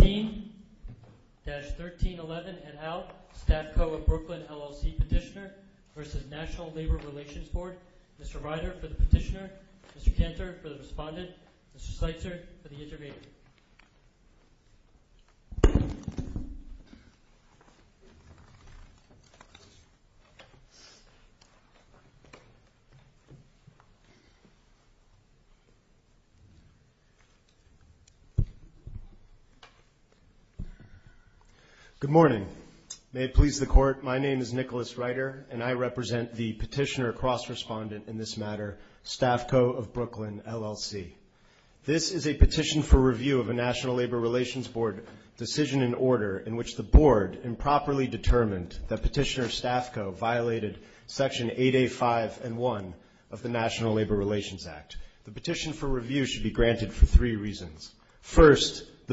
Number 16-1311 and out, Staffco of Brooklyn, LLC Petitioner v. National Labor Relations Board Mr. Ryder for the Petitioner, Mr. Cantor for the Respondent, Mr. Sleitzer for the Intermediate Mr. Ryder for the Petitioner, Mr. Cantor for the Respondent, Mr. Sleitzer for the Intermediate The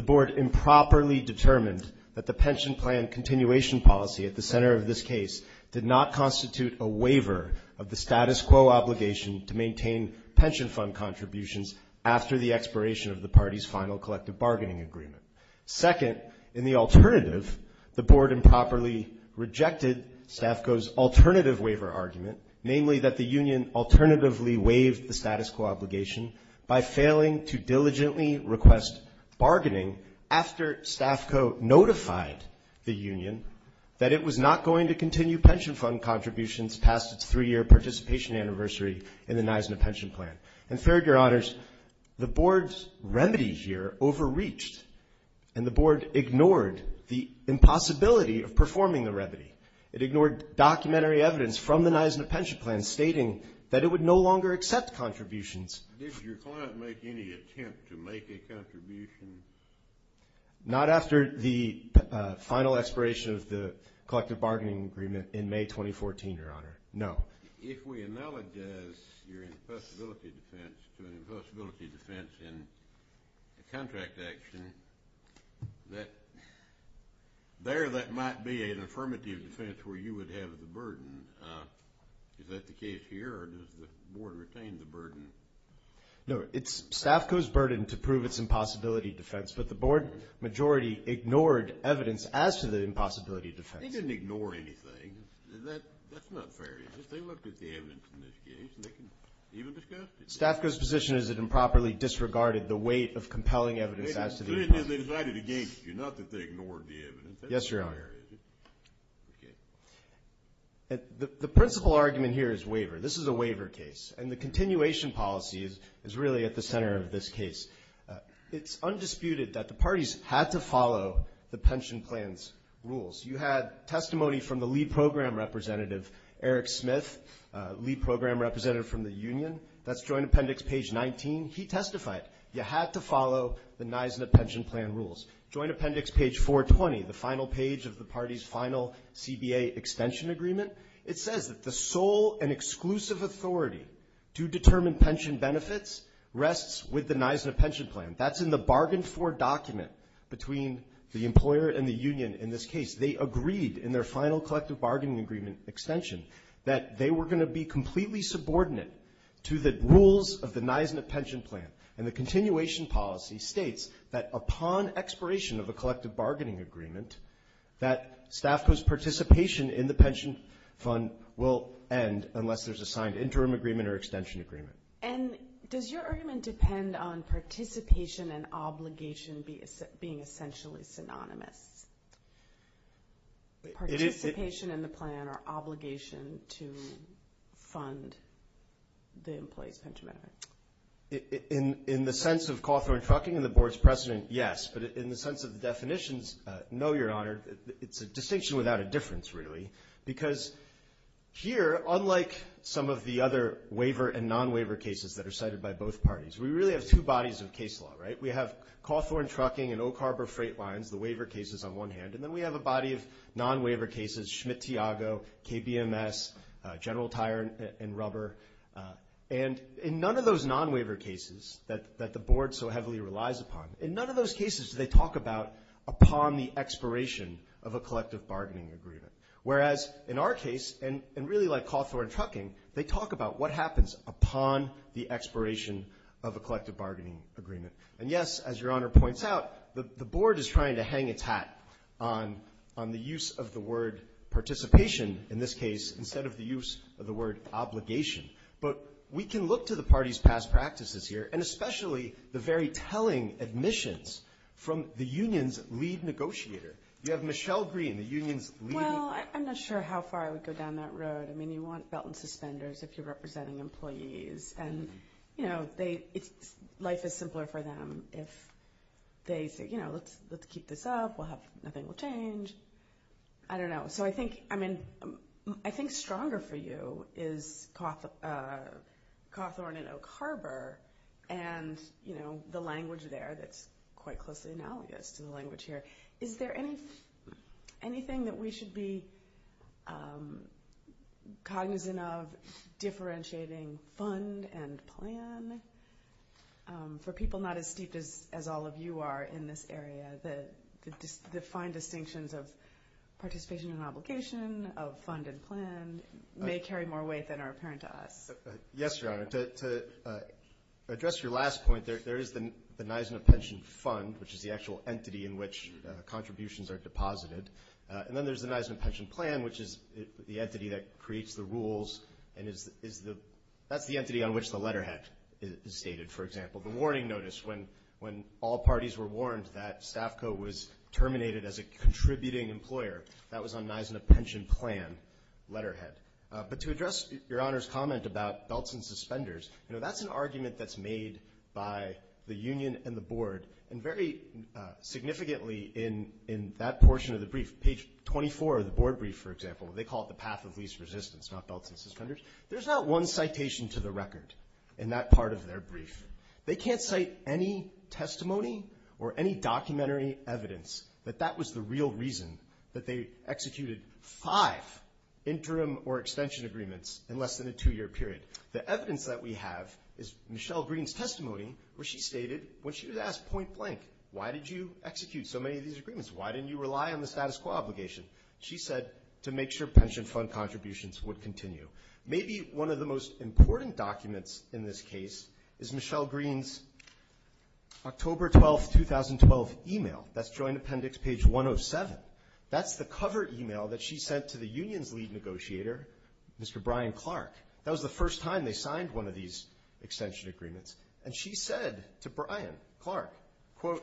board improperly determined that the pension plan continuation policy at the center of this case did not constitute a waiver of the status quo obligation to maintain pension fund contributions after the expiration of the party's final collective bargaining agreement. Second, in the alternative, the board improperly rejected Staffco's alternative waiver argument, namely that the union alternatively waived the status quo obligation by failing to diligently request bargaining after Staffco notified the union that it was not going to continue pension fund contributions past its three-year participation anniversary in the Nisena pension plan. And third, Your Honors, the board's remedy here overreached, and the board ignored the impossibility of performing the remedy. It ignored documentary evidence from the Nisena pension plan stating that it would no longer accept contributions. Did your client make any attempt to make a contribution? Not after the final expiration of the collective bargaining agreement in May 2014, Your Honor, no. If we analogize your impossibility defense to an impossibility defense in a contract action, there that might be an No, it's Staffco's burden to prove its impossibility defense, but the board majority ignored evidence as to the impossibility defense. They didn't ignore anything. That's not fair, is it? They looked at the evidence in this case, and they didn't even discuss it. Staffco's position is it improperly disregarded the weight of compelling evidence as to the impossibility defense. They decided against you, not that they ignored the evidence. Yes, Your Honor. Okay. The principal argument here is waiver. This is a waiver case, and the continuation policy is really at the center of this case. It's undisputed that the parties had to follow the pension plan's rules. You had testimony from the lead program representative, Eric Smith, lead program representative from the union. That's joint appendix page 19. He testified you had to follow the Nisena pension plan rules. Joint appendix page 420, the final page of the party's final CBA extension agreement. It says that the sole and exclusive authority to determine pension benefits rests with the Nisena pension plan. That's in the bargain for document between the employer and the union in this case. They agreed in their final collective bargaining agreement extension that they were going to be completely subordinate to the rules of the Nisena pension plan. And the continuation policy states that upon expiration of a collective bargaining agreement, that staff participation in the pension fund will end unless there's a signed interim agreement or extension agreement. And does your argument depend on participation and obligation being essentially synonymous? Participation in the plan or obligation to fund the employee's pension benefit? In the sense of Cawthorn Trucking and the board's precedent, yes. But in the sense of the definitions, no, Your Honor. It's a distinction without a difference, really. Because here, unlike some of the other waiver and non-waiver cases that are cited by both parties, we really have two bodies of case law, right? We have Cawthorn Trucking and Oak Harbor Freight Lines, the waiver cases on one hand. And then we have a body of non-waiver cases, Schmidt-Tiago, KBMS, General Tire and Rubber. And in none of those non-waiver cases that the board so heavily relies upon, in none of those cases do they talk about upon the expiration of a collective bargaining agreement. Whereas in our case, and really like Cawthorn Trucking, they talk about what happens upon the expiration of a collective bargaining agreement. And, yes, as Your Honor points out, the board is trying to hang its hat on the use of the word participation in this case instead of the use of the word obligation. But we can look to the parties' past practices here, and especially the very telling admissions from the union's lead negotiator. You have Michelle Green, the union's lead. Well, I'm not sure how far I would go down that road. I mean, you want belt and suspenders if you're representing employees. And, you know, life is simpler for them if they say, you know, let's keep this up, nothing will change. I don't know. So I think, I mean, I think stronger for you is Cawthorn and Oak Harbor and, you know, the language there that's quite closely analogous to the language here. Is there anything that we should be cognizant of differentiating fund and plan for people not as steeped as all of you are in this area, the fine distinctions of participation in obligation, of fund and plan, may carry more weight than are apparent to us? Yes, Your Honor. To address your last point, there is the Nisena Pension Fund, which is the actual entity in which contributions are deposited. And then there's the Nisena Pension Plan, which is the entity that creates the rules and is the ‑‑ that's the entity on which the letterhead is stated, for example. The warning notice when all parties were warned that Staff Co. was terminated as a contributing employer, that was on Nisena Pension Plan letterhead. But to address Your Honor's comment about belts and suspenders, you know, that's an argument that's made by the union and the board. And very significantly in that portion of the brief, page 24 of the board brief, for example, they call it the path of least resistance, not belts and suspenders. There's not one citation to the record in that part of their brief. They can't cite any testimony or any documentary evidence that that was the real reason that they executed five interim or extension agreements in less than a two‑year period. The evidence that we have is Michelle Green's testimony where she stated, when she was asked point blank, why did you execute so many of these agreements, why didn't you rely on the status quo obligation? She said to make sure pension fund contributions would continue. Maybe one of the most important documents in this case is Michelle Green's October 12, 2012, email. That's Joint Appendix, page 107. That's the cover email that she sent to the union's lead negotiator, Mr. Brian Clark. That was the first time they signed one of these extension agreements. And she said to Brian Clark, quote,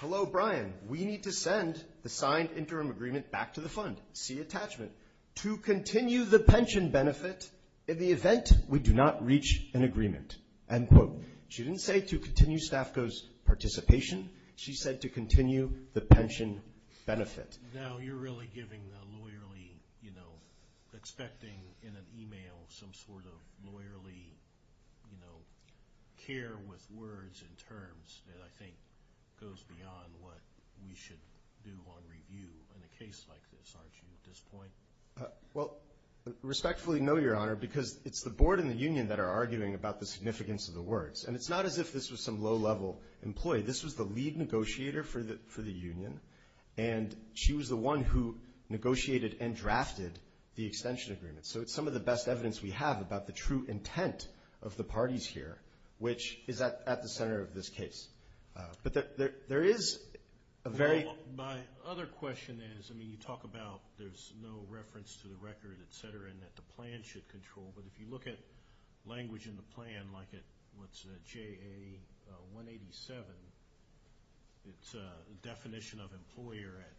hello, Brian, we need to send the signed interim agreement back to the fund. See attachment. To continue the pension benefit in the event we do not reach an agreement. End quote. She didn't say to continue SNAFCO's participation. She said to continue the pension benefit. Now you're really giving the lawyerly, you know, expecting in an email some sort of lawyerly, you know, care with words and terms that I think goes beyond what we should do on review in a case like this, aren't you, at this point? Well, respectfully, no, Your Honor, because it's the board and the union that are arguing about the significance of the words. And it's not as if this was some low‑level employee. This was the lead negotiator for the union. And she was the one who negotiated and drafted the extension agreement. So it's some of the best evidence we have about the true intent of the parties here, which is at the center of this case. But there is a very ‑‑ My other question is, I mean, you talk about there's no reference to the record, et cetera, and that the plan should control. But if you look at language in the plan, like at what's JA 187, it's a definition of employer at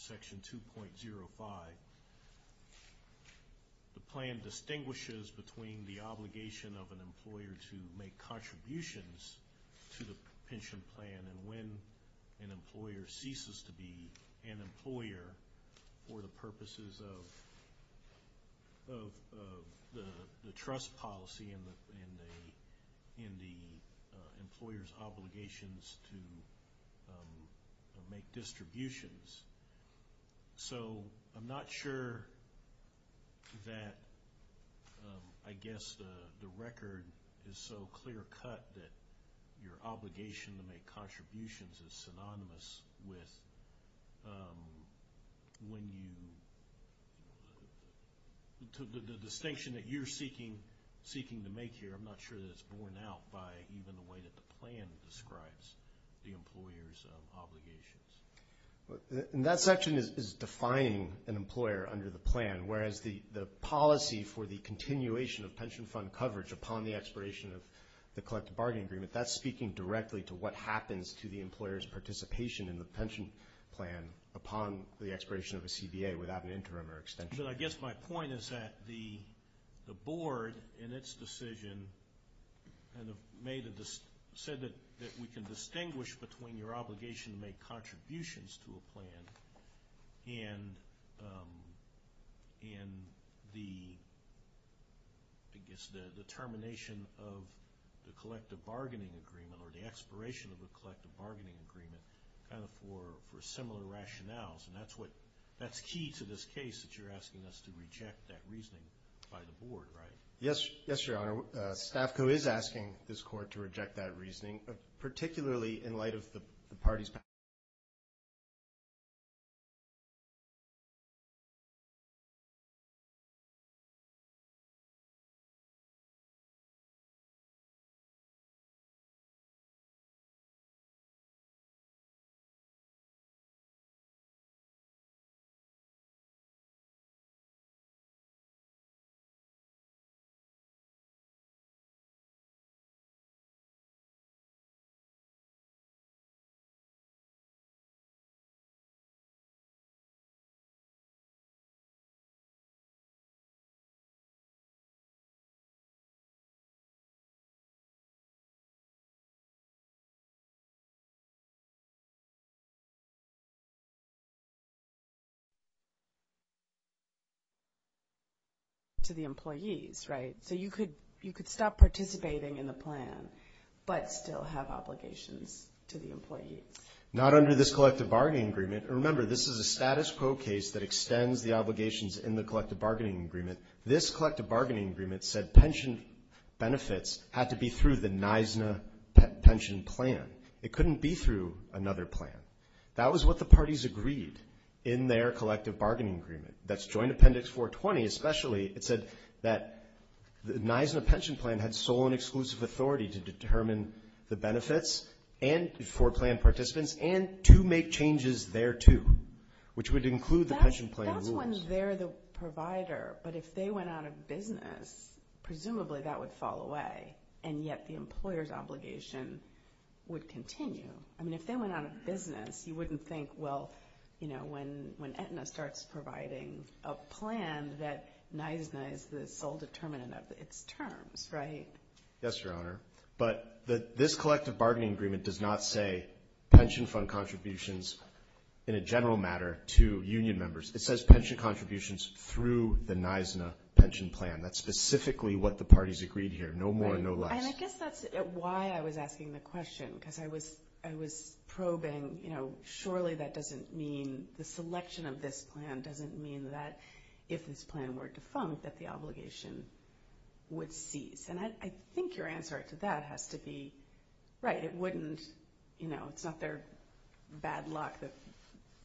section 2.05. The plan distinguishes between the obligation of an employer to make contributions to the pension plan and when an employer ceases to be an employer for the purposes of the trust policy and the employer's obligations to make distributions. So I'm not sure that I guess the record is so clear cut that your obligation to make contributions is synonymous with when you ‑‑ the distinction that you're seeking to make here, I'm not sure that it's borne out by even the way that the plan describes the employer's obligations. That section is defining an employer under the plan, whereas the policy for the continuation of pension fund coverage upon the expiration of the collective bargaining agreement, that's speaking directly to what happens to the employer's participation in the pension plan upon the expiration of a CBA without an interim or extension. But I guess my point is that the board, in its decision, said that we can distinguish between your obligation to make contributions to a plan and the termination of the collective bargaining agreement or the expiration of the collective bargaining agreement for similar rationales, and that's key to this case that you're asking us to reject that reasoning by the board, right? Yes, Your Honor, Stafco is asking this court to reject that reasoning, to the employees, right? So you could stop participating in the plan, but still have obligations to the employees. Not under this collective bargaining agreement. Remember, this is a status quo case that extends the obligations in the collective bargaining agreement. This collective bargaining agreement said pension benefits had to be through the NISNA pension plan. It couldn't be through another plan. That was what the parties agreed in their collective bargaining agreement. That's Joint Appendix 420, especially. It said that the NISNA pension plan had sole and exclusive authority to determine the benefits for plan participants and to make changes thereto, which would include the pension plan rules. That's when they're the provider, but if they went out of business, presumably that would fall away, and yet the employer's obligation would continue. I mean, if they went out of business, you wouldn't think, well, you know, when Aetna starts providing a plan that NISNA is the sole determinant of its terms, right? Yes, Your Honor, but this collective bargaining agreement does not say pension fund contributions in a general matter to union members. It says pension contributions through the NISNA pension plan. That's specifically what the parties agreed here, no more, no less. And I guess that's why I was asking the question, because I was probing, you know, surely that doesn't mean the selection of this plan doesn't mean that if this plan were defunct that the obligation would cease, and I think your answer to that has to be right. It wouldn't, you know, it's not their bad luck,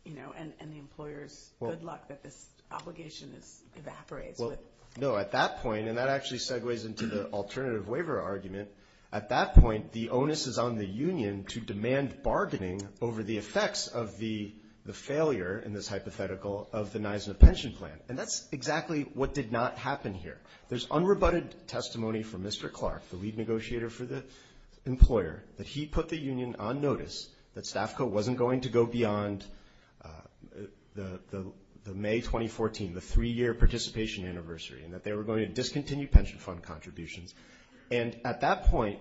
you know, and the employer's good luck that this obligation evaporates. Well, no, at that point, and that actually segues into the alternative waiver argument, at that point the onus is on the union to demand bargaining over the effects of the failure in this hypothetical of the NISNA pension plan, and that's exactly what did not happen here. There's unrebutted testimony from Mr. Clark, the lead negotiator for the employer, that he put the union on notice that Stafco wasn't going to go beyond the May 2014, the three-year participation anniversary, and that they were going to discontinue pension fund contributions. And at that point,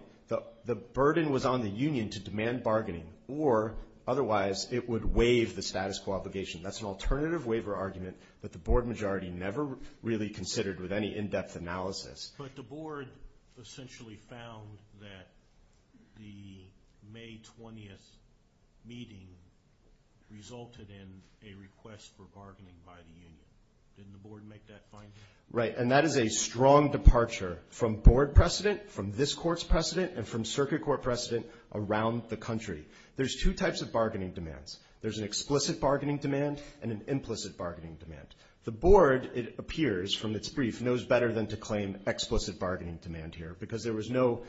the burden was on the union to demand bargaining, or otherwise it would waive the status quo obligation. That's an alternative waiver argument that the board majority never really considered with any in-depth analysis. But the board essentially found that the May 20th meeting resulted in a request for bargaining by the union. Didn't the board make that finding? Right, and that is a strong departure from board precedent, from this court's precedent, and from circuit court precedent around the country. There's two types of bargaining demands. There's an explicit bargaining demand and an implicit bargaining demand. The board, it appears from its brief, knows better than to claim explicit bargaining demand here because there was no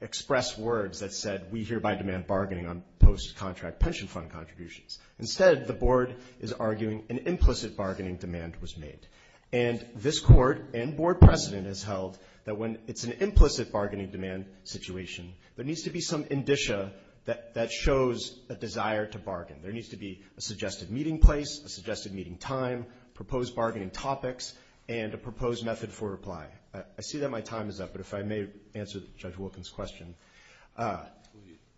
express words that said, we hereby demand bargaining on post-contract pension fund contributions. Instead, the board is arguing an implicit bargaining demand was made. And this court and board precedent has held that when it's an implicit bargaining demand situation, there needs to be some indicia that shows a desire to bargain. There needs to be a suggested meeting place, a suggested meeting time, proposed bargaining topics, and a proposed method for reply. I see that my time is up, but if I may answer Judge Wilkins' question.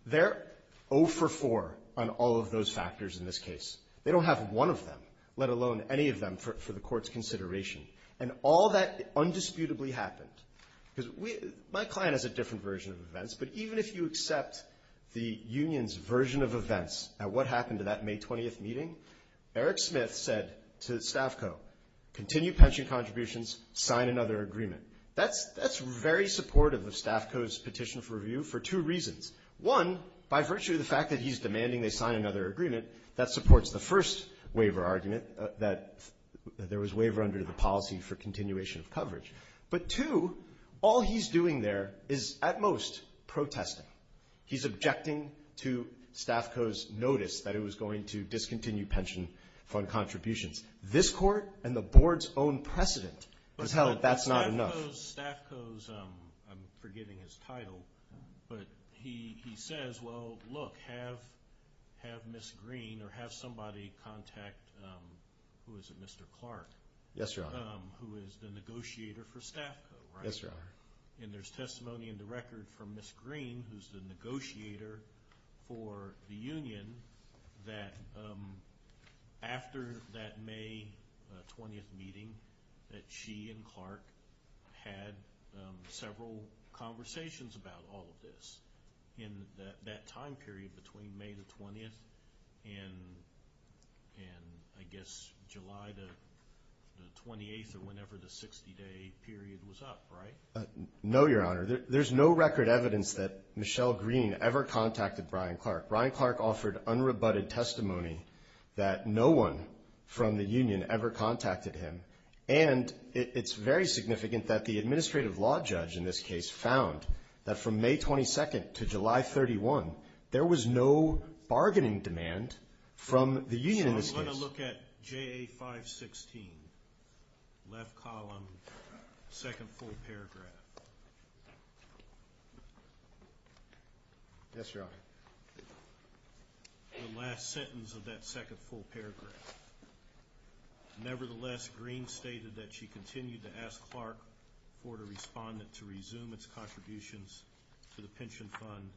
They're 0 for 4 on all of those factors in this case. They don't have one of them, let alone any of them, for the court's consideration. And all that undisputably happened. Because my client has a different version of events, but even if you accept the union's version of events at what happened to that May 20th meeting, Eric Smith said to Stafco, continue pension contributions, sign another agreement. That's very supportive of Stafco's petition for review for two reasons. One, by virtue of the fact that he's demanding they sign another agreement, that supports the first waiver argument that there was waiver under the policy for continuation of coverage. But two, all he's doing there is, at most, protesting. He's objecting to Stafco's notice that it was going to discontinue pension contributions. This court and the board's own precedent has held that's not enough. I know Stafco's, I'm forgetting his title, but he says, well, look, have Ms. Green or have somebody contact, who is it, Mr. Clark? Yes, Your Honor. Who is the negotiator for Stafco, right? Yes, Your Honor. And there's testimony in the record from Ms. Green, who's the negotiator for the union, that after that May 20th meeting, that she and Clark had several conversations about all of this, in that time period between May the 20th and, I guess, July the 28th, or whenever the 60-day period was up, right? No, Your Honor. There's no record evidence that Michelle Green ever contacted Brian Clark. Brian Clark offered unrebutted testimony that no one from the union ever contacted him. And it's very significant that the administrative law judge in this case found that from May 22nd to July 31, there was no bargaining demand from the union in this case. So I'm going to look at JA 516, left column, second full paragraph. Yes, Your Honor. The last sentence of that second full paragraph. Nevertheless, Green stated that she continued to ask Clark for the respondent to resume its contributions to the pension fund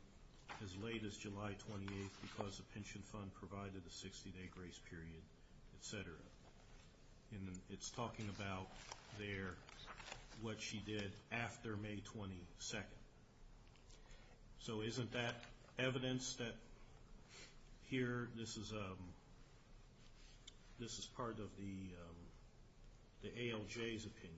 as late as July 28th because the pension fund provided the 60-day grace period, et cetera. And it's talking about there what she did after May 22nd. So isn't that evidence that here this is part of the ALJ's opinion?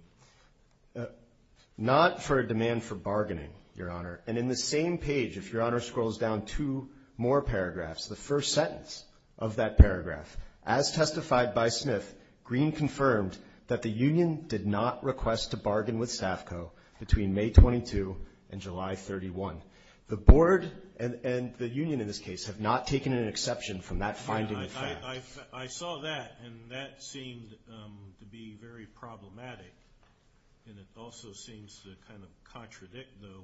Not for a demand for bargaining, Your Honor. And in the same page, if Your Honor scrolls down two more paragraphs, the first sentence of that paragraph, as testified by Smith, Green confirmed that the union did not request to bargain with SAFCO between May 22 and July 31. The board and the union in this case have not taken an exception from that finding of fact. I saw that, and that seemed to be very problematic. And it also seems to kind of contradict, though,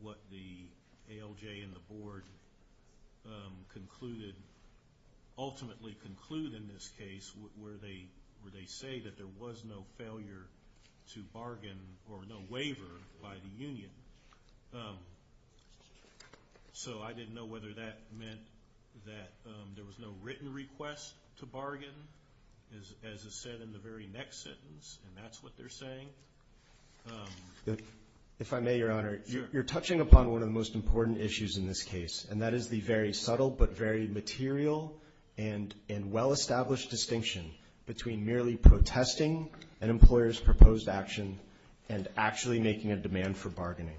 what the ALJ and the board concluded, ultimately conclude in this case where they say that there was no failure to bargain or no waiver by the union. So I didn't know whether that meant that there was no written request to bargain, as is said in the very next sentence, and that's what they're saying. If I may, Your Honor, you're touching upon one of the most important issues in this case, and that is the very subtle but very material and well-established distinction between merely protesting an employer's proposed action and actually making a demand for bargaining.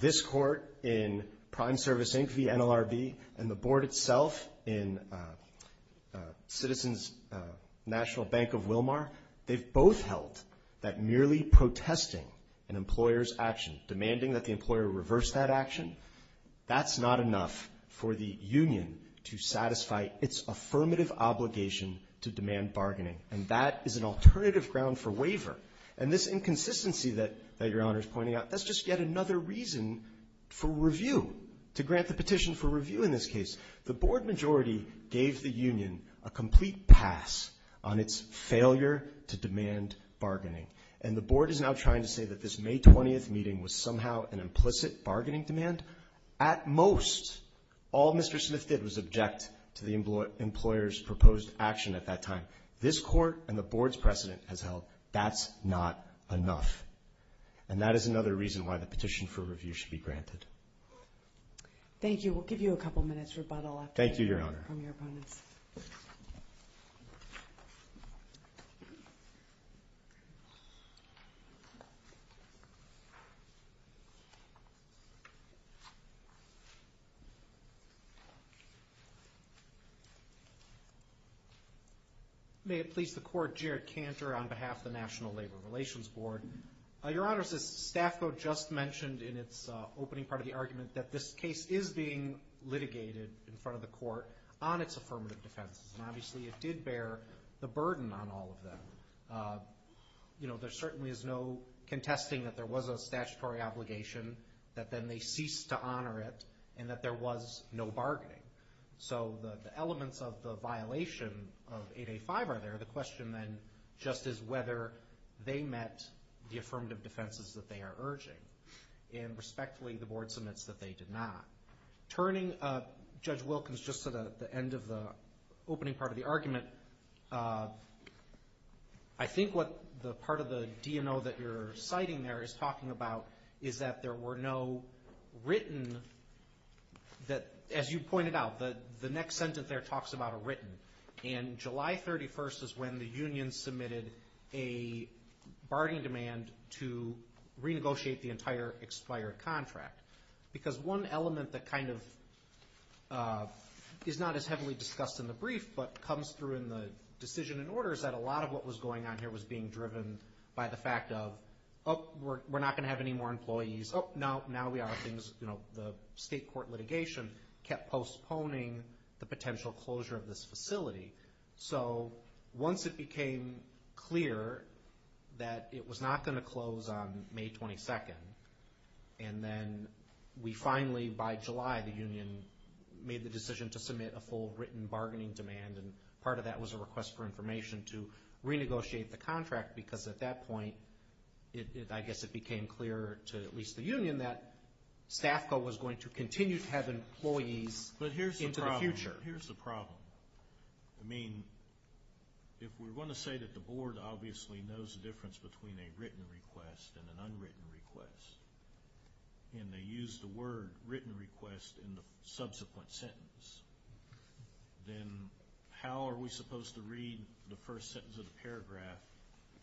This court in Prime Service Inc. v. NLRB and the board itself in Citizens National Bank of Wilmar, they've both held that merely protesting an employer's action, demanding that the employer reverse that action, that's not enough for the union to satisfy its affirmative obligation to demand bargaining. And that is an alternative ground for waiver. And this inconsistency that Your Honor is pointing out, that's just yet another reason for review, to grant the petition for review in this case. The board majority gave the union a complete pass on its failure to demand bargaining. And the board is now trying to say that this May 20th meeting was somehow an implicit bargaining demand. At most, all Mr. Smith did was object to the employer's proposed action at that time. This court and the board's precedent has held that's not enough. And that is another reason why the petition for review should be granted. Thank you. We'll give you a couple minutes rebuttal after hearing from your opponents. Thank you, Your Honor. May it please the Court, Jarrett Cantor on behalf of the National Labor Relations Board. Your Honor, as Staff Co. just mentioned in its opening part of the argument, that this case is being litigated in front of the Court on its affirmative defenses. And obviously it did bear the burden on all of them. You know, there certainly is no contesting that there was a statutory obligation, that then they ceased to honor it, and that there was no bargaining. So the elements of the violation of 8A.5 are there. The question, then, just is whether they met the affirmative defenses that they are urging. And respectfully, the board submits that they did not. Turning Judge Wilkins just to the end of the opening part of the argument, I think what the part of the DNO that you're citing there is talking about is that there were no written that, as you pointed out, the next sentence there talks about a written. And July 31st is when the union submitted a bargaining demand to renegotiate the entire expired contract. Because one element that kind of is not as heavily discussed in the brief, but comes through in the decision and order, is that a lot of what was going on here was being driven by the fact of, oh, we're not going to have any more employees. Oh, now we are. The state court litigation kept postponing the potential closure of this facility. So once it became clear that it was not going to close on May 22nd, and then we finally, by July, the union made the decision to submit a full written bargaining demand, and part of that was a request for information to renegotiate the contract, because at that point, I guess it became clear to at least the union that SNAFCO was going to continue to have employees into the future. But here's the problem. I mean, if we're going to say that the board obviously knows the difference between a written request and an unwritten request, and they use the word written request in the subsequent sentence, then how are we supposed to read the first sentence of the paragraph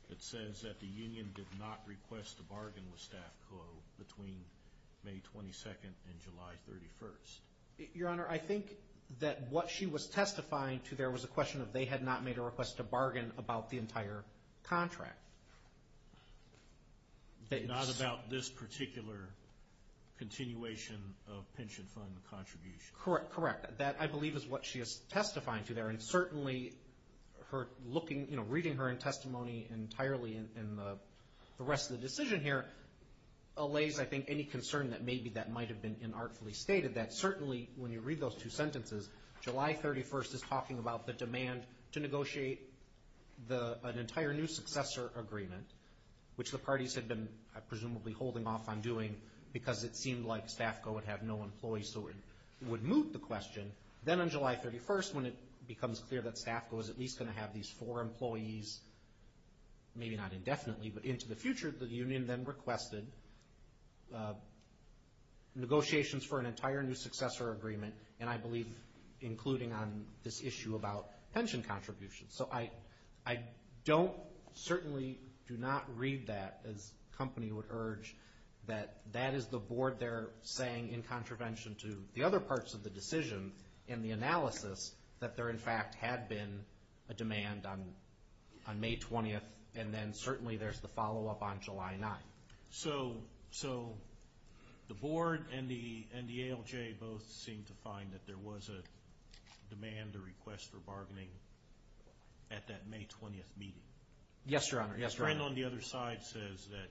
that says that the union did not request a bargain with SNAFCO between May 22nd and July 31st? Your Honor, I think that what she was testifying to there was a question of they had not made a request to bargain about the entire contract. Not about this particular continuation of pension fund contributions. Correct, correct. That, I believe, is what she is testifying to there, and certainly reading her in testimony entirely in the rest of the decision here allays, I think, any concern that maybe that might have been inartfully stated, that certainly when you read those two sentences, July 31st is talking about the demand to negotiate an entire new successor agreement, which the parties had been presumably holding off on doing because it seemed like SNAFCO would have no employees who would move the question. Then on July 31st, when it becomes clear that SNAFCO is at least going to have these four employees, maybe not indefinitely, but into the future, the union then requested negotiations for an entire new successor agreement, and I believe including on this issue about pension contributions. So I don't, certainly do not read that, as company would urge, that that is the board there saying in contravention to the other parts of the decision in the analysis that there, in fact, had been a demand on May 20th, and then certainly there's the follow-up on July 9th. So the board and the ALJ both seem to find that there was a demand or request for bargaining at that May 20th meeting. Yes, Your Honor. The friend on the other side says that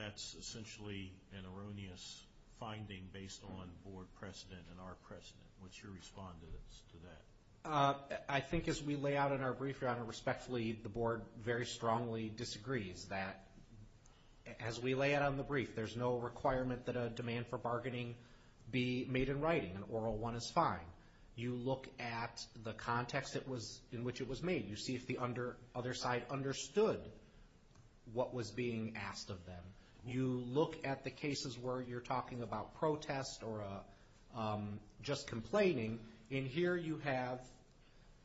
that's essentially an erroneous finding based on board precedent and our precedent. What's your response to that? I think as we lay out in our brief, Your Honor, respectfully, the board very strongly disagrees that as we lay out on the brief, there's no requirement that a demand for bargaining be made in writing. An oral one is fine. You look at the context in which it was made. You see if the other side understood what was being asked of them. You look at the cases where you're talking about protest or just complaining, and here you have,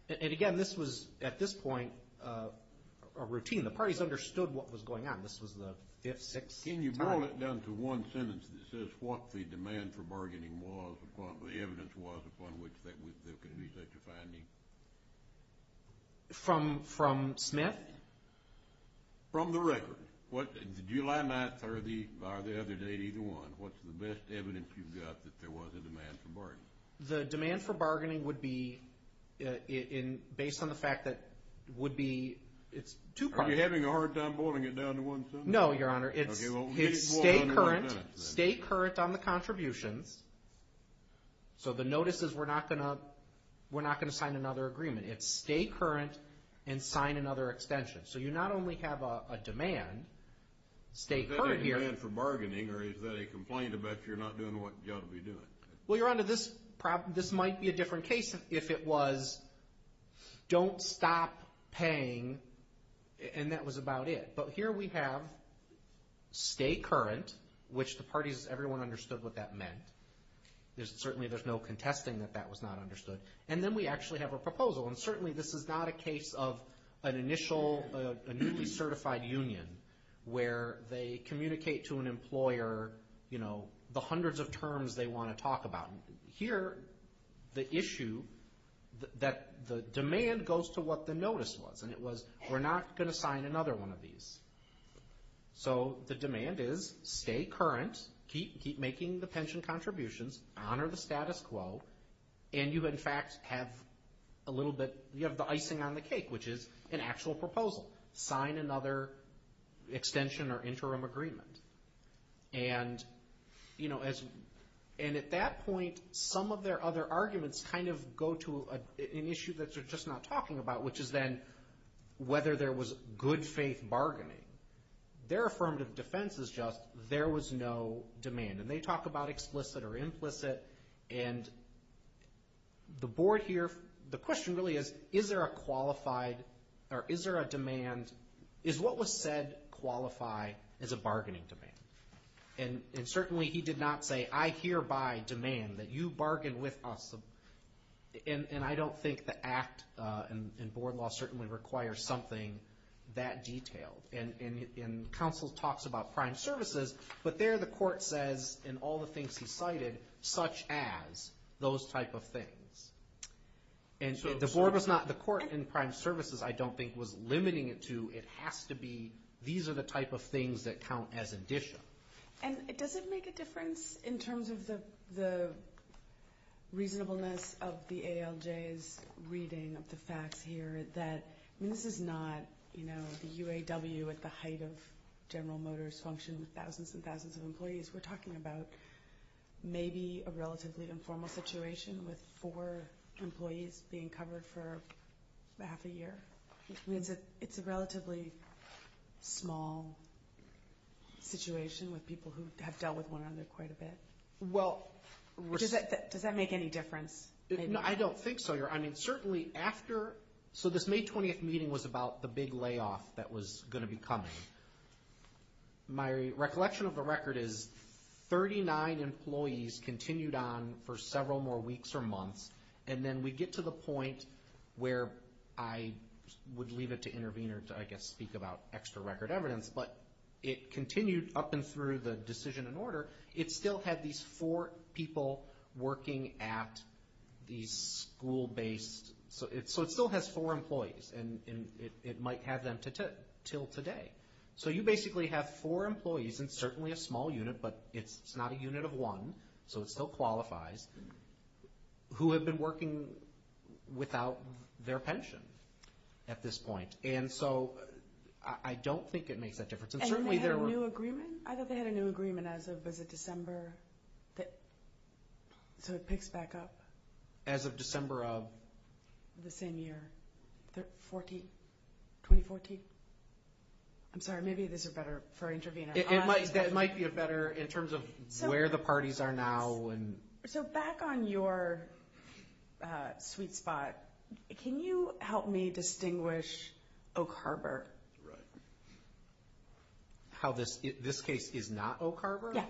and again, this was, at this point, a routine. The parties understood what was going on. This was the fifth, sixth time. Can you boil it down to one sentence that says what the demand for bargaining was, the evidence was upon which there could be such a finding? From Smith? From the record. July 9th or the other day, either one. What's the best evidence you've got that there was a demand for bargaining? The demand for bargaining would be, based on the fact that would be, it's two parties. Are you having a hard time boiling it down to one sentence? No, Your Honor. It's stay current. Stay current on the contributions. So the notice is we're not going to sign another agreement. It's stay current and sign another extension. So you not only have a demand, stay current here. Is that a demand for bargaining, or is that a complaint about you're not doing what you ought to be doing? Well, Your Honor, this might be a different case if it was don't stop paying, and that was about it. But here we have stay current, which the parties, everyone understood what that meant. Certainly there's no contesting that that was not understood. And then we actually have a proposal, and certainly this is not a case of an initial, a newly certified union where they communicate to an employer, you know, hundreds of terms they want to talk about. Here the issue that the demand goes to what the notice was, and it was we're not going to sign another one of these. So the demand is stay current, keep making the pension contributions, honor the status quo, and you in fact have a little bit, you have the icing on the cake, which is an actual proposal. Sign another extension or interim agreement. And, you know, and at that point some of their other arguments kind of go to an issue that they're just not talking about, which is then whether there was good faith bargaining. Their affirmative defense is just there was no demand. And they talk about explicit or implicit, and the board here, the question really is, is there a qualified or is there a demand, is what was said qualify as a bargaining demand? And certainly he did not say I hereby demand that you bargain with us. And I don't think the act in board law certainly requires something that detailed. And counsel talks about prime services, but there the court says in all the things he cited, such as those type of things. And the board was not, the court in prime services I don't think was limiting it to, it has to be these are the type of things that count as addition. And does it make a difference in terms of the reasonableness of the ALJ's reading of the facts here that this is not, you know, the UAW at the height of General Motors function with thousands and thousands of employees. We're talking about maybe a relatively informal situation with four employees being covered for half a year. It's a relatively small situation with people who have dealt with one another quite a bit. Does that make any difference? I don't think so. I mean certainly after, so this May 20th meeting was about the big layoff that was going to be coming. My recollection of the record is 39 employees continued on for several more weeks or months. And then we get to the point where I would leave it to intervene or to I guess speak about extra record evidence. But it continued up and through the decision and order. It still had these four people working at these school-based, so it still has four employees and it might have them until today. So you basically have four employees in certainly a small unit, but it's not a unit of one, so it still qualifies, who have been working without their pension at this point. And so I don't think it makes a difference. And certainly there were. And they had a new agreement? I thought they had a new agreement as of December, so it picks back up. As of December of? The same year, 2014. I'm sorry, maybe this is better for intervening. It might be better in terms of where the parties are now. So back on your sweet spot, can you help me distinguish Oak Harbor? Right. How this case is not Oak Harbor? Yeah.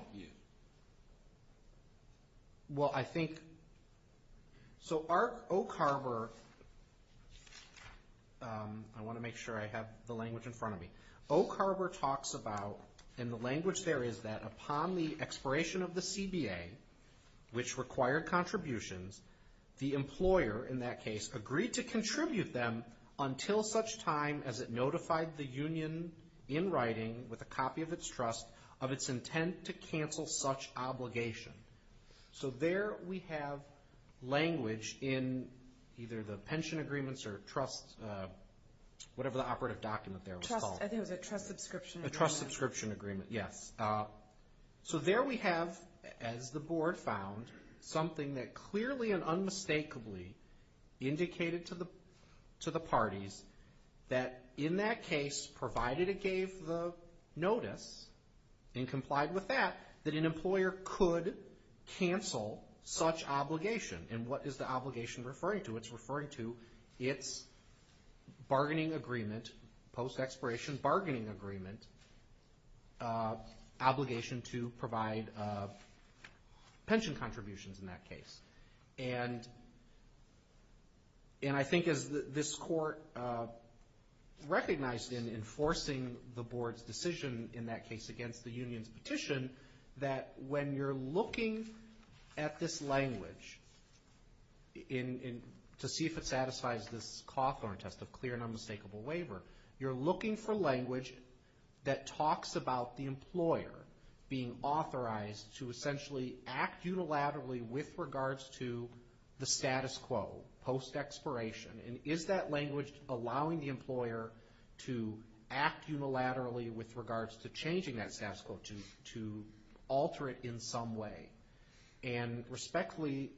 Well, I think, so Oak Harbor, I want to make sure I have the language in front of me. Oak Harbor talks about, and the language there is that, upon the expiration of the CBA, which required contributions, the employer, in that case, agreed to contribute them until such time as it notified the union, in writing, with a copy of its trust, of its intent to cancel such obligation. So there we have language in either the pension agreements or trust, whatever the operative document there was called. I think it was a trust subscription agreement. A trust subscription agreement, yes. So there we have, as the board found, something that clearly and unmistakably indicated to the parties that, in that case, provided it gave the notice and complied with that, that an employer could cancel such obligation. And what is the obligation referring to? It's referring to its bargaining agreement, post-expiration bargaining agreement, obligation to provide pension contributions in that case. And I think, as this court recognized in enforcing the board's decision, in that case, against the union's petition, that when you're looking at this language, to see if it satisfies this Cawthorn test of clear and unmistakable waiver, you're looking for language that talks about the employer being authorized to essentially act unilaterally with regards to the status quo, post-expiration. And is that language allowing the employer to act unilaterally with regards to changing that status quo, to alter it in some way? And respectfully,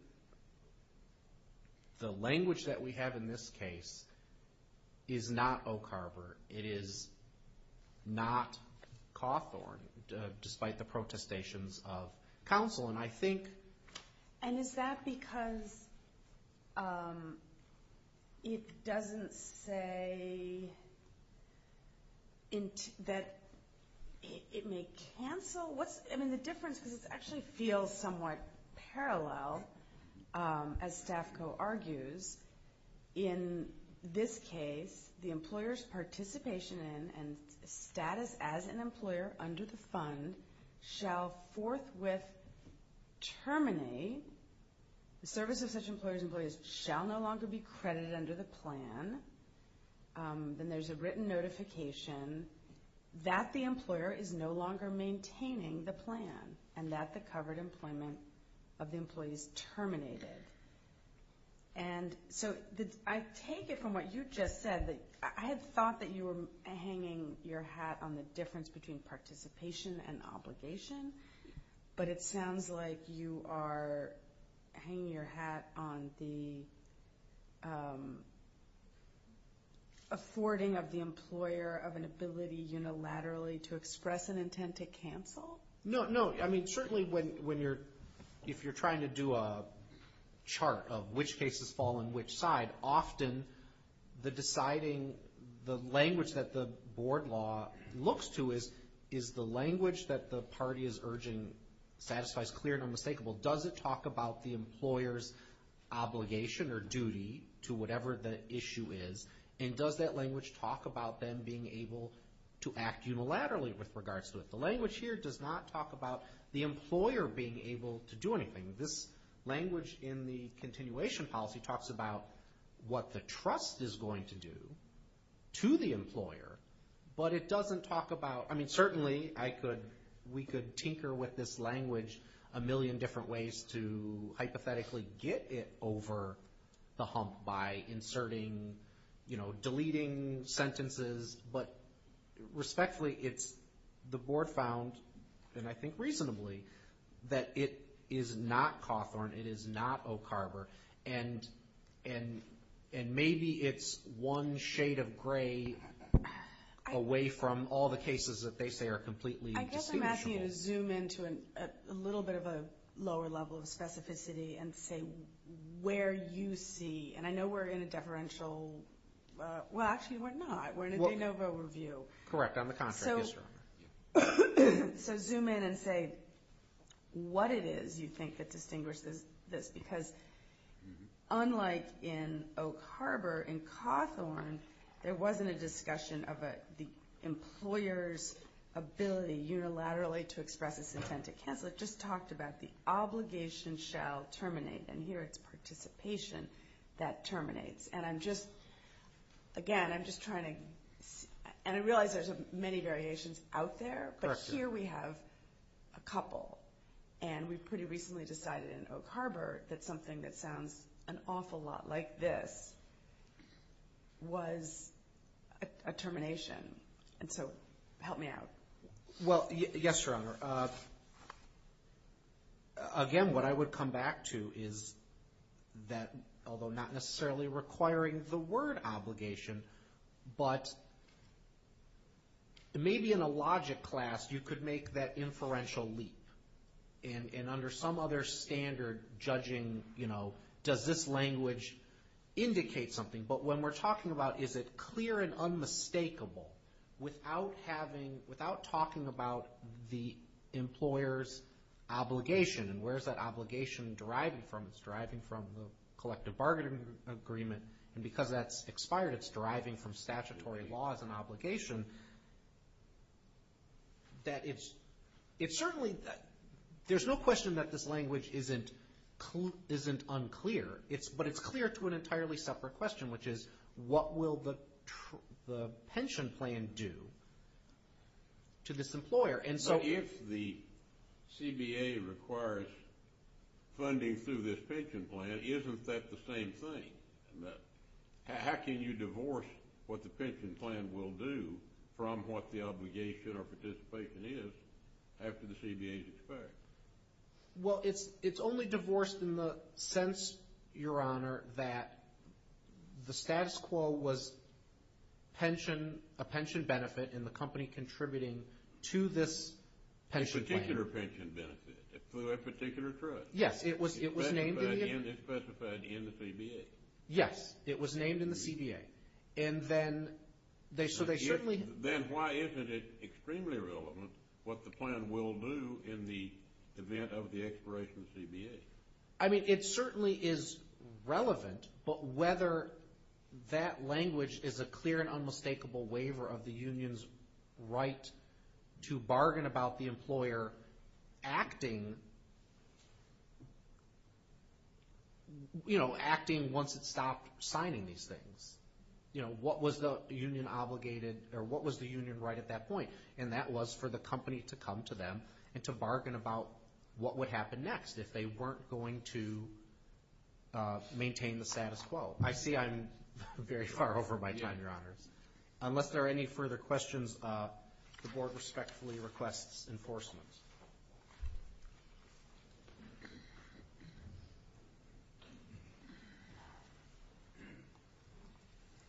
the language that we have in this case is not Oak Harbor. It is not Cawthorn, despite the protestations of counsel. And I think... And is that because it doesn't say that it may cancel? I mean, the difference, because it actually feels somewhat parallel, as Staff Co. argues, in this case, the employer's participation in and status as an employer under the fund shall forthwith terminate. The service of such employers and employees shall no longer be credited under the plan. Then there's a written notification that the employer is no longer maintaining the plan and that the covered employment of the employees terminated. And so I take it from what you just said that I had thought that you were hanging your hat on the difference between participation and obligation, but it sounds like you are hanging your hat on the affording of the employer of an ability unilaterally to express an intent to cancel? No, no. I mean, certainly if you're trying to do a chart of which cases fall on which side, often the language that the board law looks to is the language that the party is urging satisfies clear and unmistakable. Does it talk about the employer's obligation or duty to whatever the issue is? And does that language talk about them being able to act unilaterally with regards to it? The language here does not talk about the employer being able to do anything. This language in the continuation policy talks about what the trust is going to do to the employer, but it doesn't talk about... I mean, certainly we could tinker with this language a million different ways to hypothetically get it over the hump by inserting, you know, deleting sentences, but respectfully it's the board found, and I think reasonably, that it is not Cawthorn, it is not Oak Harbor, and maybe it's one shade of gray away from all the cases that they say are completely distinguishable. I guess I'm asking you to zoom into a little bit of a lower level of specificity and say where you see, and I know we're in a deferential... Well, actually we're not, we're in a de novo review. Correct, on the contract. So zoom in and say what it is you think that distinguishes this, because unlike in Oak Harbor, in Cawthorn, there wasn't a discussion of the employer's ability unilaterally to express its intent to cancel. It just talked about the obligation shall terminate, and here it's participation that terminates. And I'm just, again, I'm just trying to, and I realize there's many variations out there, but here we have a couple, and we pretty recently decided in Oak Harbor that something that sounds an awful lot like this was a termination, and so help me out. Well, yes, Your Honor. Again, what I would come back to is that, although not necessarily requiring the word obligation, but maybe in a logic class you could make that inferential leap, and under some other standard judging, you know, does this language indicate something? But when we're talking about is it clear and unmistakable without talking about the employer's obligation and where is that obligation deriving from? It's deriving from the collective bargaining agreement, and because that's expired, it's deriving from statutory laws and obligation, that it's certainly, there's no question that this language isn't unclear, but it's clear to an entirely separate question, which is what will the pension plan do to this employer? But if the CBA requires funding through this pension plan, isn't that the same thing? How can you divorce what the pension plan will do from what the obligation or participation is after the CBA's expired? Well, it's only divorced in the sense, Your Honor, that the status quo was a pension benefit and the company contributing to this pension plan. A particular pension benefit through a particular trust. Yes, it was named in the... It's specified in the CBA. Yes, it was named in the CBA, and then they certainly... Then why isn't it extremely relevant what the plan will do in the event of the expiration of the CBA? I mean, it certainly is relevant, but whether that language is a clear and unmistakable waiver of the union's right to bargain about the employer acting, you know, acting once it stopped signing these things. You know, what was the union obligated or what was the union right at that point? And that was for the company to come to them and to bargain about what would happen next if they weren't going to maintain the status quo. I see I'm very far over my time, Your Honors. Unless there are any further questions, the Board respectfully requests enforcement.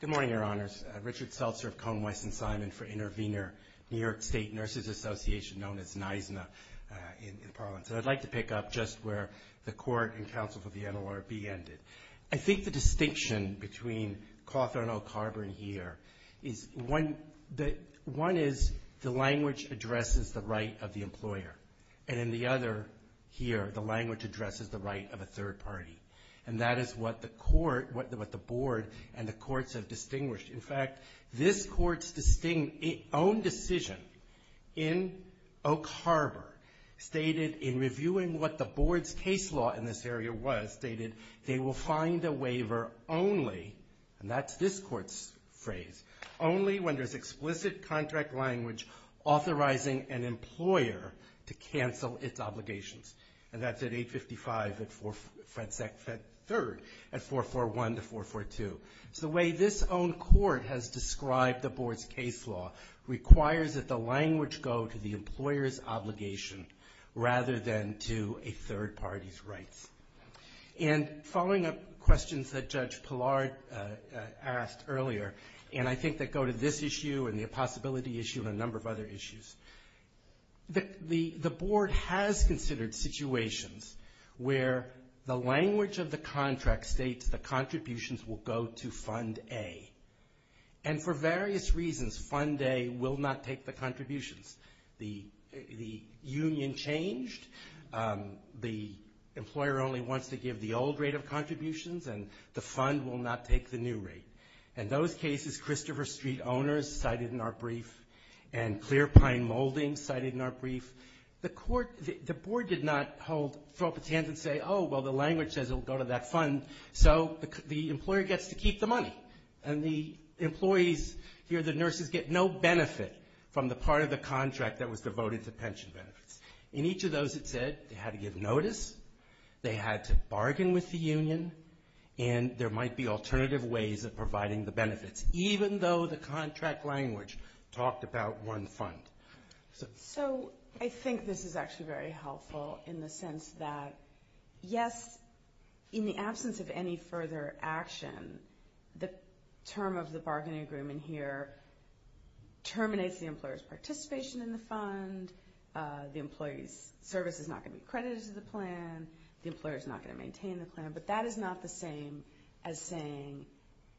Good morning, Your Honors. Richard Seltzer of Cone, Weiss & Simon for Intervenor, New York State Nurses Association, known as NISNA in parlance. And I'd like to pick up just where the court and counsel for the NLRB ended. I think the distinction between Cawthorne, Oak Harbor, and here is one is the language addresses the right of the employer. And in the other here, the language addresses the right of a third party. And that is what the board and the courts have distinguished. In fact, this court's own decision in Oak Harbor stated in reviewing what the board's case law in this area was, stated they will find a waiver only, and that's this court's phrase, only when there's explicit contract language authorizing an employer to cancel its obligations. And that's at 855 at FedSec 3rd at 441 to 442. So the way this own court has described the board's case law requires that the language go to the employer's obligation rather than to a third party's rights. And following up questions that Judge Pillard asked earlier, and I think that go to this issue and the possibility issue and a number of other issues, the board has considered situations where the language of the contract states the contributions will go to Fund A. And for various reasons, Fund A will not take the contributions. The union changed. The employer only wants to give the old rate of contributions, and the fund will not take the new rate. In those cases, Christopher Street Owners cited in our brief and Clear Pine Molding cited in our brief, the court, the board did not hold, throw up its hands and say, oh, well, the language says it will go to that fund. So the employer gets to keep the money, and the employees here, the nurses, get no benefit from the part of the contract that was devoted to pension benefits. In each of those, it said they had to give notice, they had to bargain with the union, and there might be alternative ways of providing the benefits, even though the contract language talked about one fund. So I think this is actually very helpful in the sense that, yes, in the absence of any further action, the term of the bargaining agreement here terminates the employer's participation in the fund, the employee's service is not going to be credited to the plan, the employer is not going to maintain the plan, but that is not the same as saying,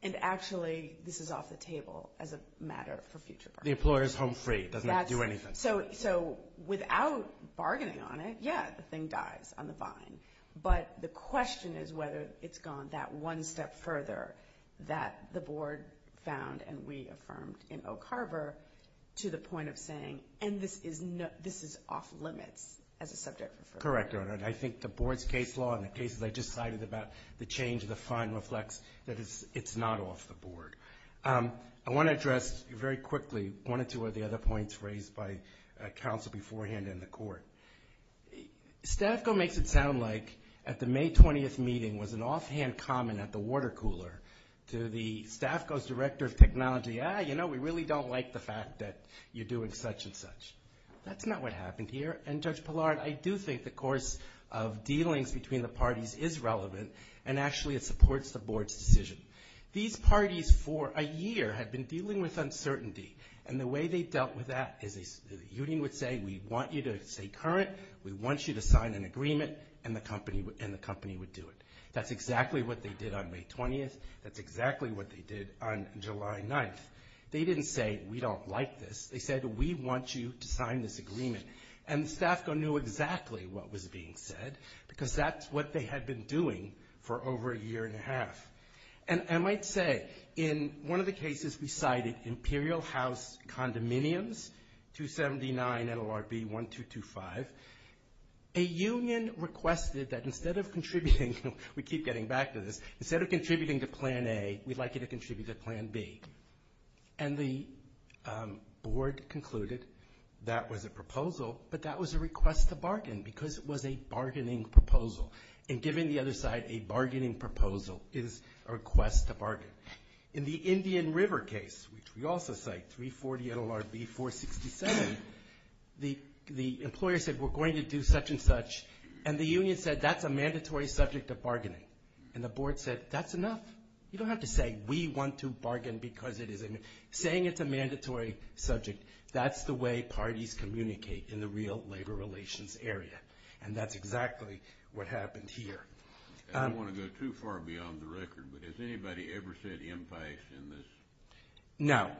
and actually this is off the table as a matter for future bargaining. The employer is home free, doesn't have to do anything. So without bargaining on it, yeah, the thing dies on the vine. But the question is whether it's gone that one step further that the board found and we affirmed in Oak Harbor to the point of saying, and this is off limits as a subject. Correct, Your Honor, and I think the board's case law and the cases I just cited about the change of the fund reflects that it's not off the board. I want to address very quickly one or two of the other points raised by counsel beforehand in the court. Stafco makes it sound like at the May 20th meeting was an offhand comment at the water cooler to the Stafco's director of technology, saying, yeah, you know, we really don't like the fact that you're doing such and such. That's not what happened here, and Judge Pillard, I do think the course of dealings between the parties is relevant and actually it supports the board's decision. These parties for a year had been dealing with uncertainty, and the way they dealt with that is the union would say, we want you to stay current, we want you to sign an agreement, and the company would do it. That's exactly what they did on May 20th. That's exactly what they did on July 9th. They didn't say, we don't like this. They said, we want you to sign this agreement. And Stafco knew exactly what was being said because that's what they had been doing for over a year and a half. And I might say, in one of the cases we cited, Imperial House Condominiums, 279 NLRB 1225, a union requested that instead of contributing, we keep getting back to this, instead of contributing to Plan A, we'd like you to contribute to Plan B. And the board concluded that was a proposal, but that was a request to bargain because it was a bargaining proposal. And giving the other side a bargaining proposal is a request to bargain. In the Indian River case, which we also cite, 340 NLRB 467, the employer said, we're going to do such and such, and the union said, that's a mandatory subject of bargaining. And the board said, that's enough. You don't have to say, we want to bargain because it is. Saying it's a mandatory subject, that's the way parties communicate in the real labor relations area. And that's exactly what happened here. I don't want to go too far beyond the record, but has anybody ever said impasse in this? No.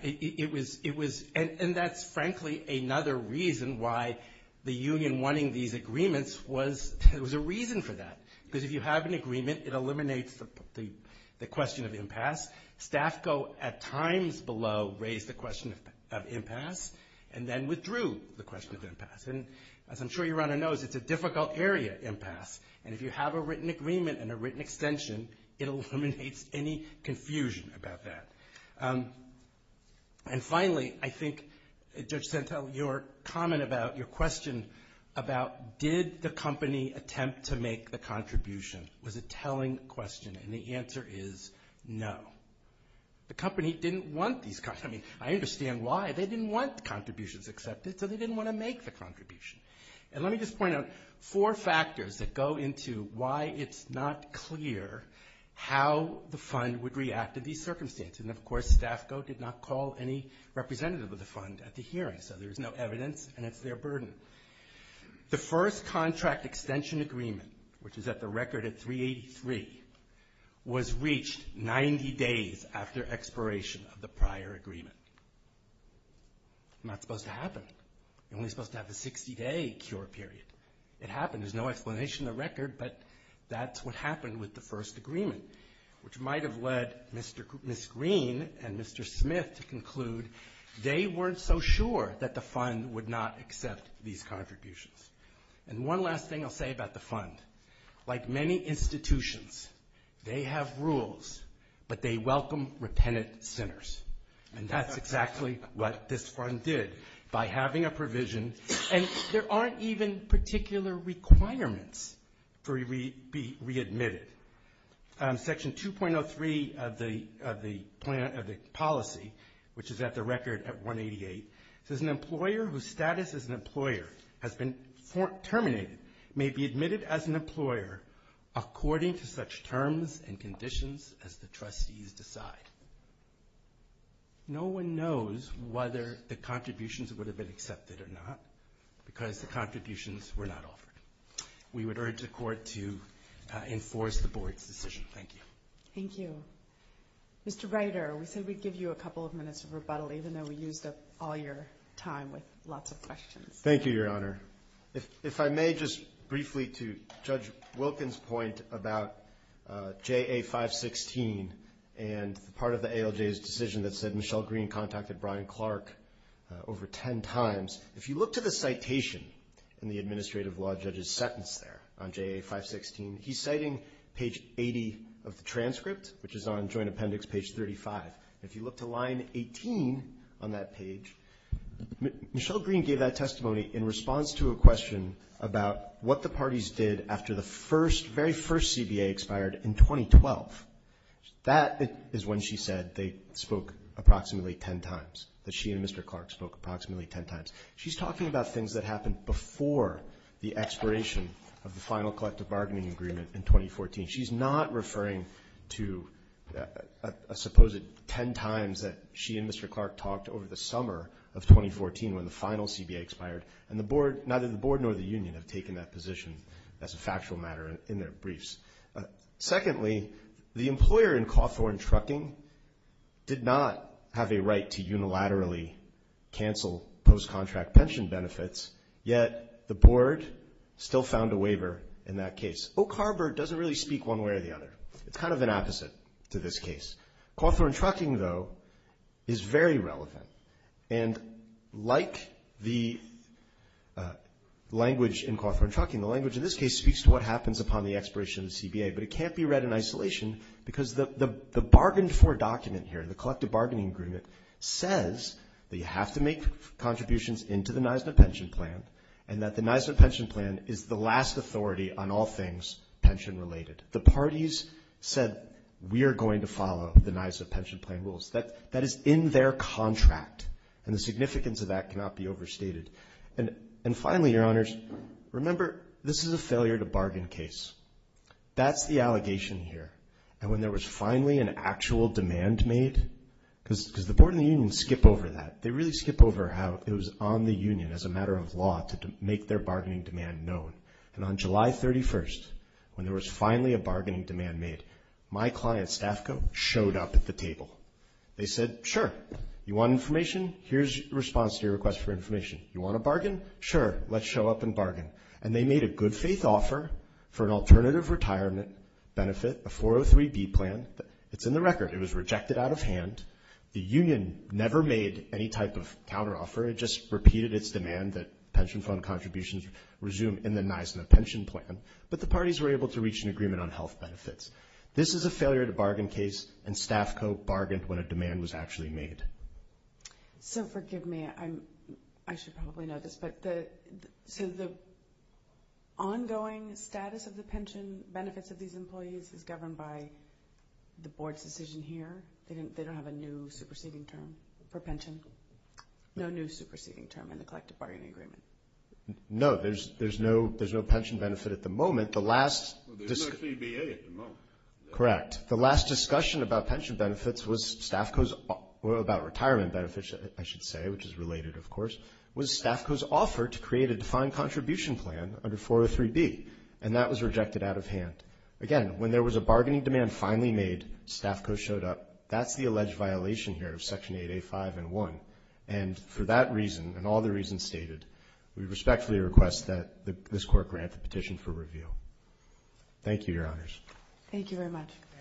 And that's frankly another reason why the union wanting these agreements was, there was a reason for that. Because if you have an agreement, it eliminates the question of impasse. Staff go at times below, raise the question of impasse, and then withdrew the question of impasse. And as I'm sure your honor knows, it's a difficult area, impasse. And if you have a written agreement and a written extension, it eliminates any confusion about that. And finally, I think, Judge Santel, your comment about, your question about, did the company attempt to make the contribution, was a telling question. And the answer is no. The company didn't want these contributions. I mean, I understand why. They didn't want the contributions accepted, so they didn't want to make the contribution. And let me just point out four factors that go into why it's not clear how the fund would react to these circumstances. And of course, Staff Go did not call any representative of the fund at the hearing. So there's no evidence, and it's their burden. The first contract extension agreement, which is at the record at 383, was reached 90 days after expiration of the prior agreement. Not supposed to happen. You're only supposed to have a 60-day cure period. It happened. There's no explanation in the record, but that's what happened with the first agreement, which might have led Ms. Green and Mr. Smith to conclude they weren't so sure that the fund would not accept these contributions. And one last thing I'll say about the fund. Like many institutions, they have rules, but they welcome repentant sinners. And that's exactly what this fund did by having a provision, and there aren't even particular requirements for it to be readmitted. Section 2.03 of the policy, which is at the record at 188, says an employer whose status as an employer has been terminated may be admitted as an employer according to such terms and conditions as the trustees decide. No one knows whether the contributions would have been accepted or not, because the contributions were not offered. We would urge the Court to enforce the Board's decision. Thank you. Thank you. Mr. Reiter, we said we'd give you a couple of minutes of rebuttal, even though we used up all your time with lots of questions. Thank you, Your Honor. If I may just briefly to Judge Wilkin's point about JA 516 and part of the ALJ's decision that said Michelle Green contacted Brian Clark over ten times. If you look to the citation in the administrative law judge's sentence there on JA 516, he's citing page 80 of the transcript, which is on Joint Appendix page 35. If you look to line 18 on that page, Michelle Green gave that testimony in response to a question about what the parties did after the very first CBA expired in 2012. That is when she said they spoke approximately ten times, that she and Mr. Clark spoke approximately ten times. She's talking about things that happened before the expiration of the final collective bargaining agreement in 2014. She's not referring to a supposed ten times that she and Mr. Clark talked over the summer of 2014 when the final CBA expired, and neither the board nor the union have taken that position as a factual matter in their briefs. Secondly, the employer in Cawthorn Trucking did not have a right to unilaterally cancel post-contract pension benefits, yet the board still found a waiver in that case. Oak Harbor doesn't really speak one way or the other. It's kind of an opposite to this case. Cawthorn Trucking, though, is very relevant, and like the language in Cawthorn Trucking, the language in this case speaks to what happens upon the expiration of the CBA, but it can't be read in isolation because the bargained for document here, the collective bargaining agreement, says that you have to make contributions into the NISNA pension plan and that the NISNA pension plan is the last authority on all things pension-related. The parties said we are going to follow the NISNA pension plan rules. That is in their contract, and the significance of that cannot be overstated. And finally, Your Honors, remember this is a failure to bargain case. That's the allegation here, and when there was finally an actual demand made, because the board and the union skip over that. They really skip over how it was on the union, as a matter of law, to make their bargaining demand known. And on July 31st, when there was finally a bargaining demand made, my client, Stafco, showed up at the table. They said, sure, you want information? Here's the response to your request for information. You want to bargain? Sure, let's show up and bargain. And they made a good faith offer for an alternative retirement benefit, a 403B plan. It's in the record. It was rejected out of hand. The union never made any type of counteroffer. It just repeated its demand that pension fund contributions resume in the NISNA pension plan. But the parties were able to reach an agreement on health benefits. This is a failure to bargain case, and Stafco bargained when a demand was actually made. So forgive me. I should probably know this, but the ongoing status of the pension benefits of these employees is governed by the board's decision here. They don't have a new superseding term for pension? No new superseding term in the collective bargaining agreement? No, there's no pension benefit at the moment. There's no CBA at the moment. Correct. The last discussion about pension benefits was Stafco's or about retirement benefits, I should say, which is related, of course, was Stafco's offer to create a defined contribution plan under 403B, and that was rejected out of hand. Again, when there was a bargaining demand finally made, Stafco showed up. That's the alleged violation here of Section 8A.5 and 1, and for that reason and all the reasons stated, we respectfully request that this court grant the petition for reveal. Thank you, Your Honors. Thank you very much.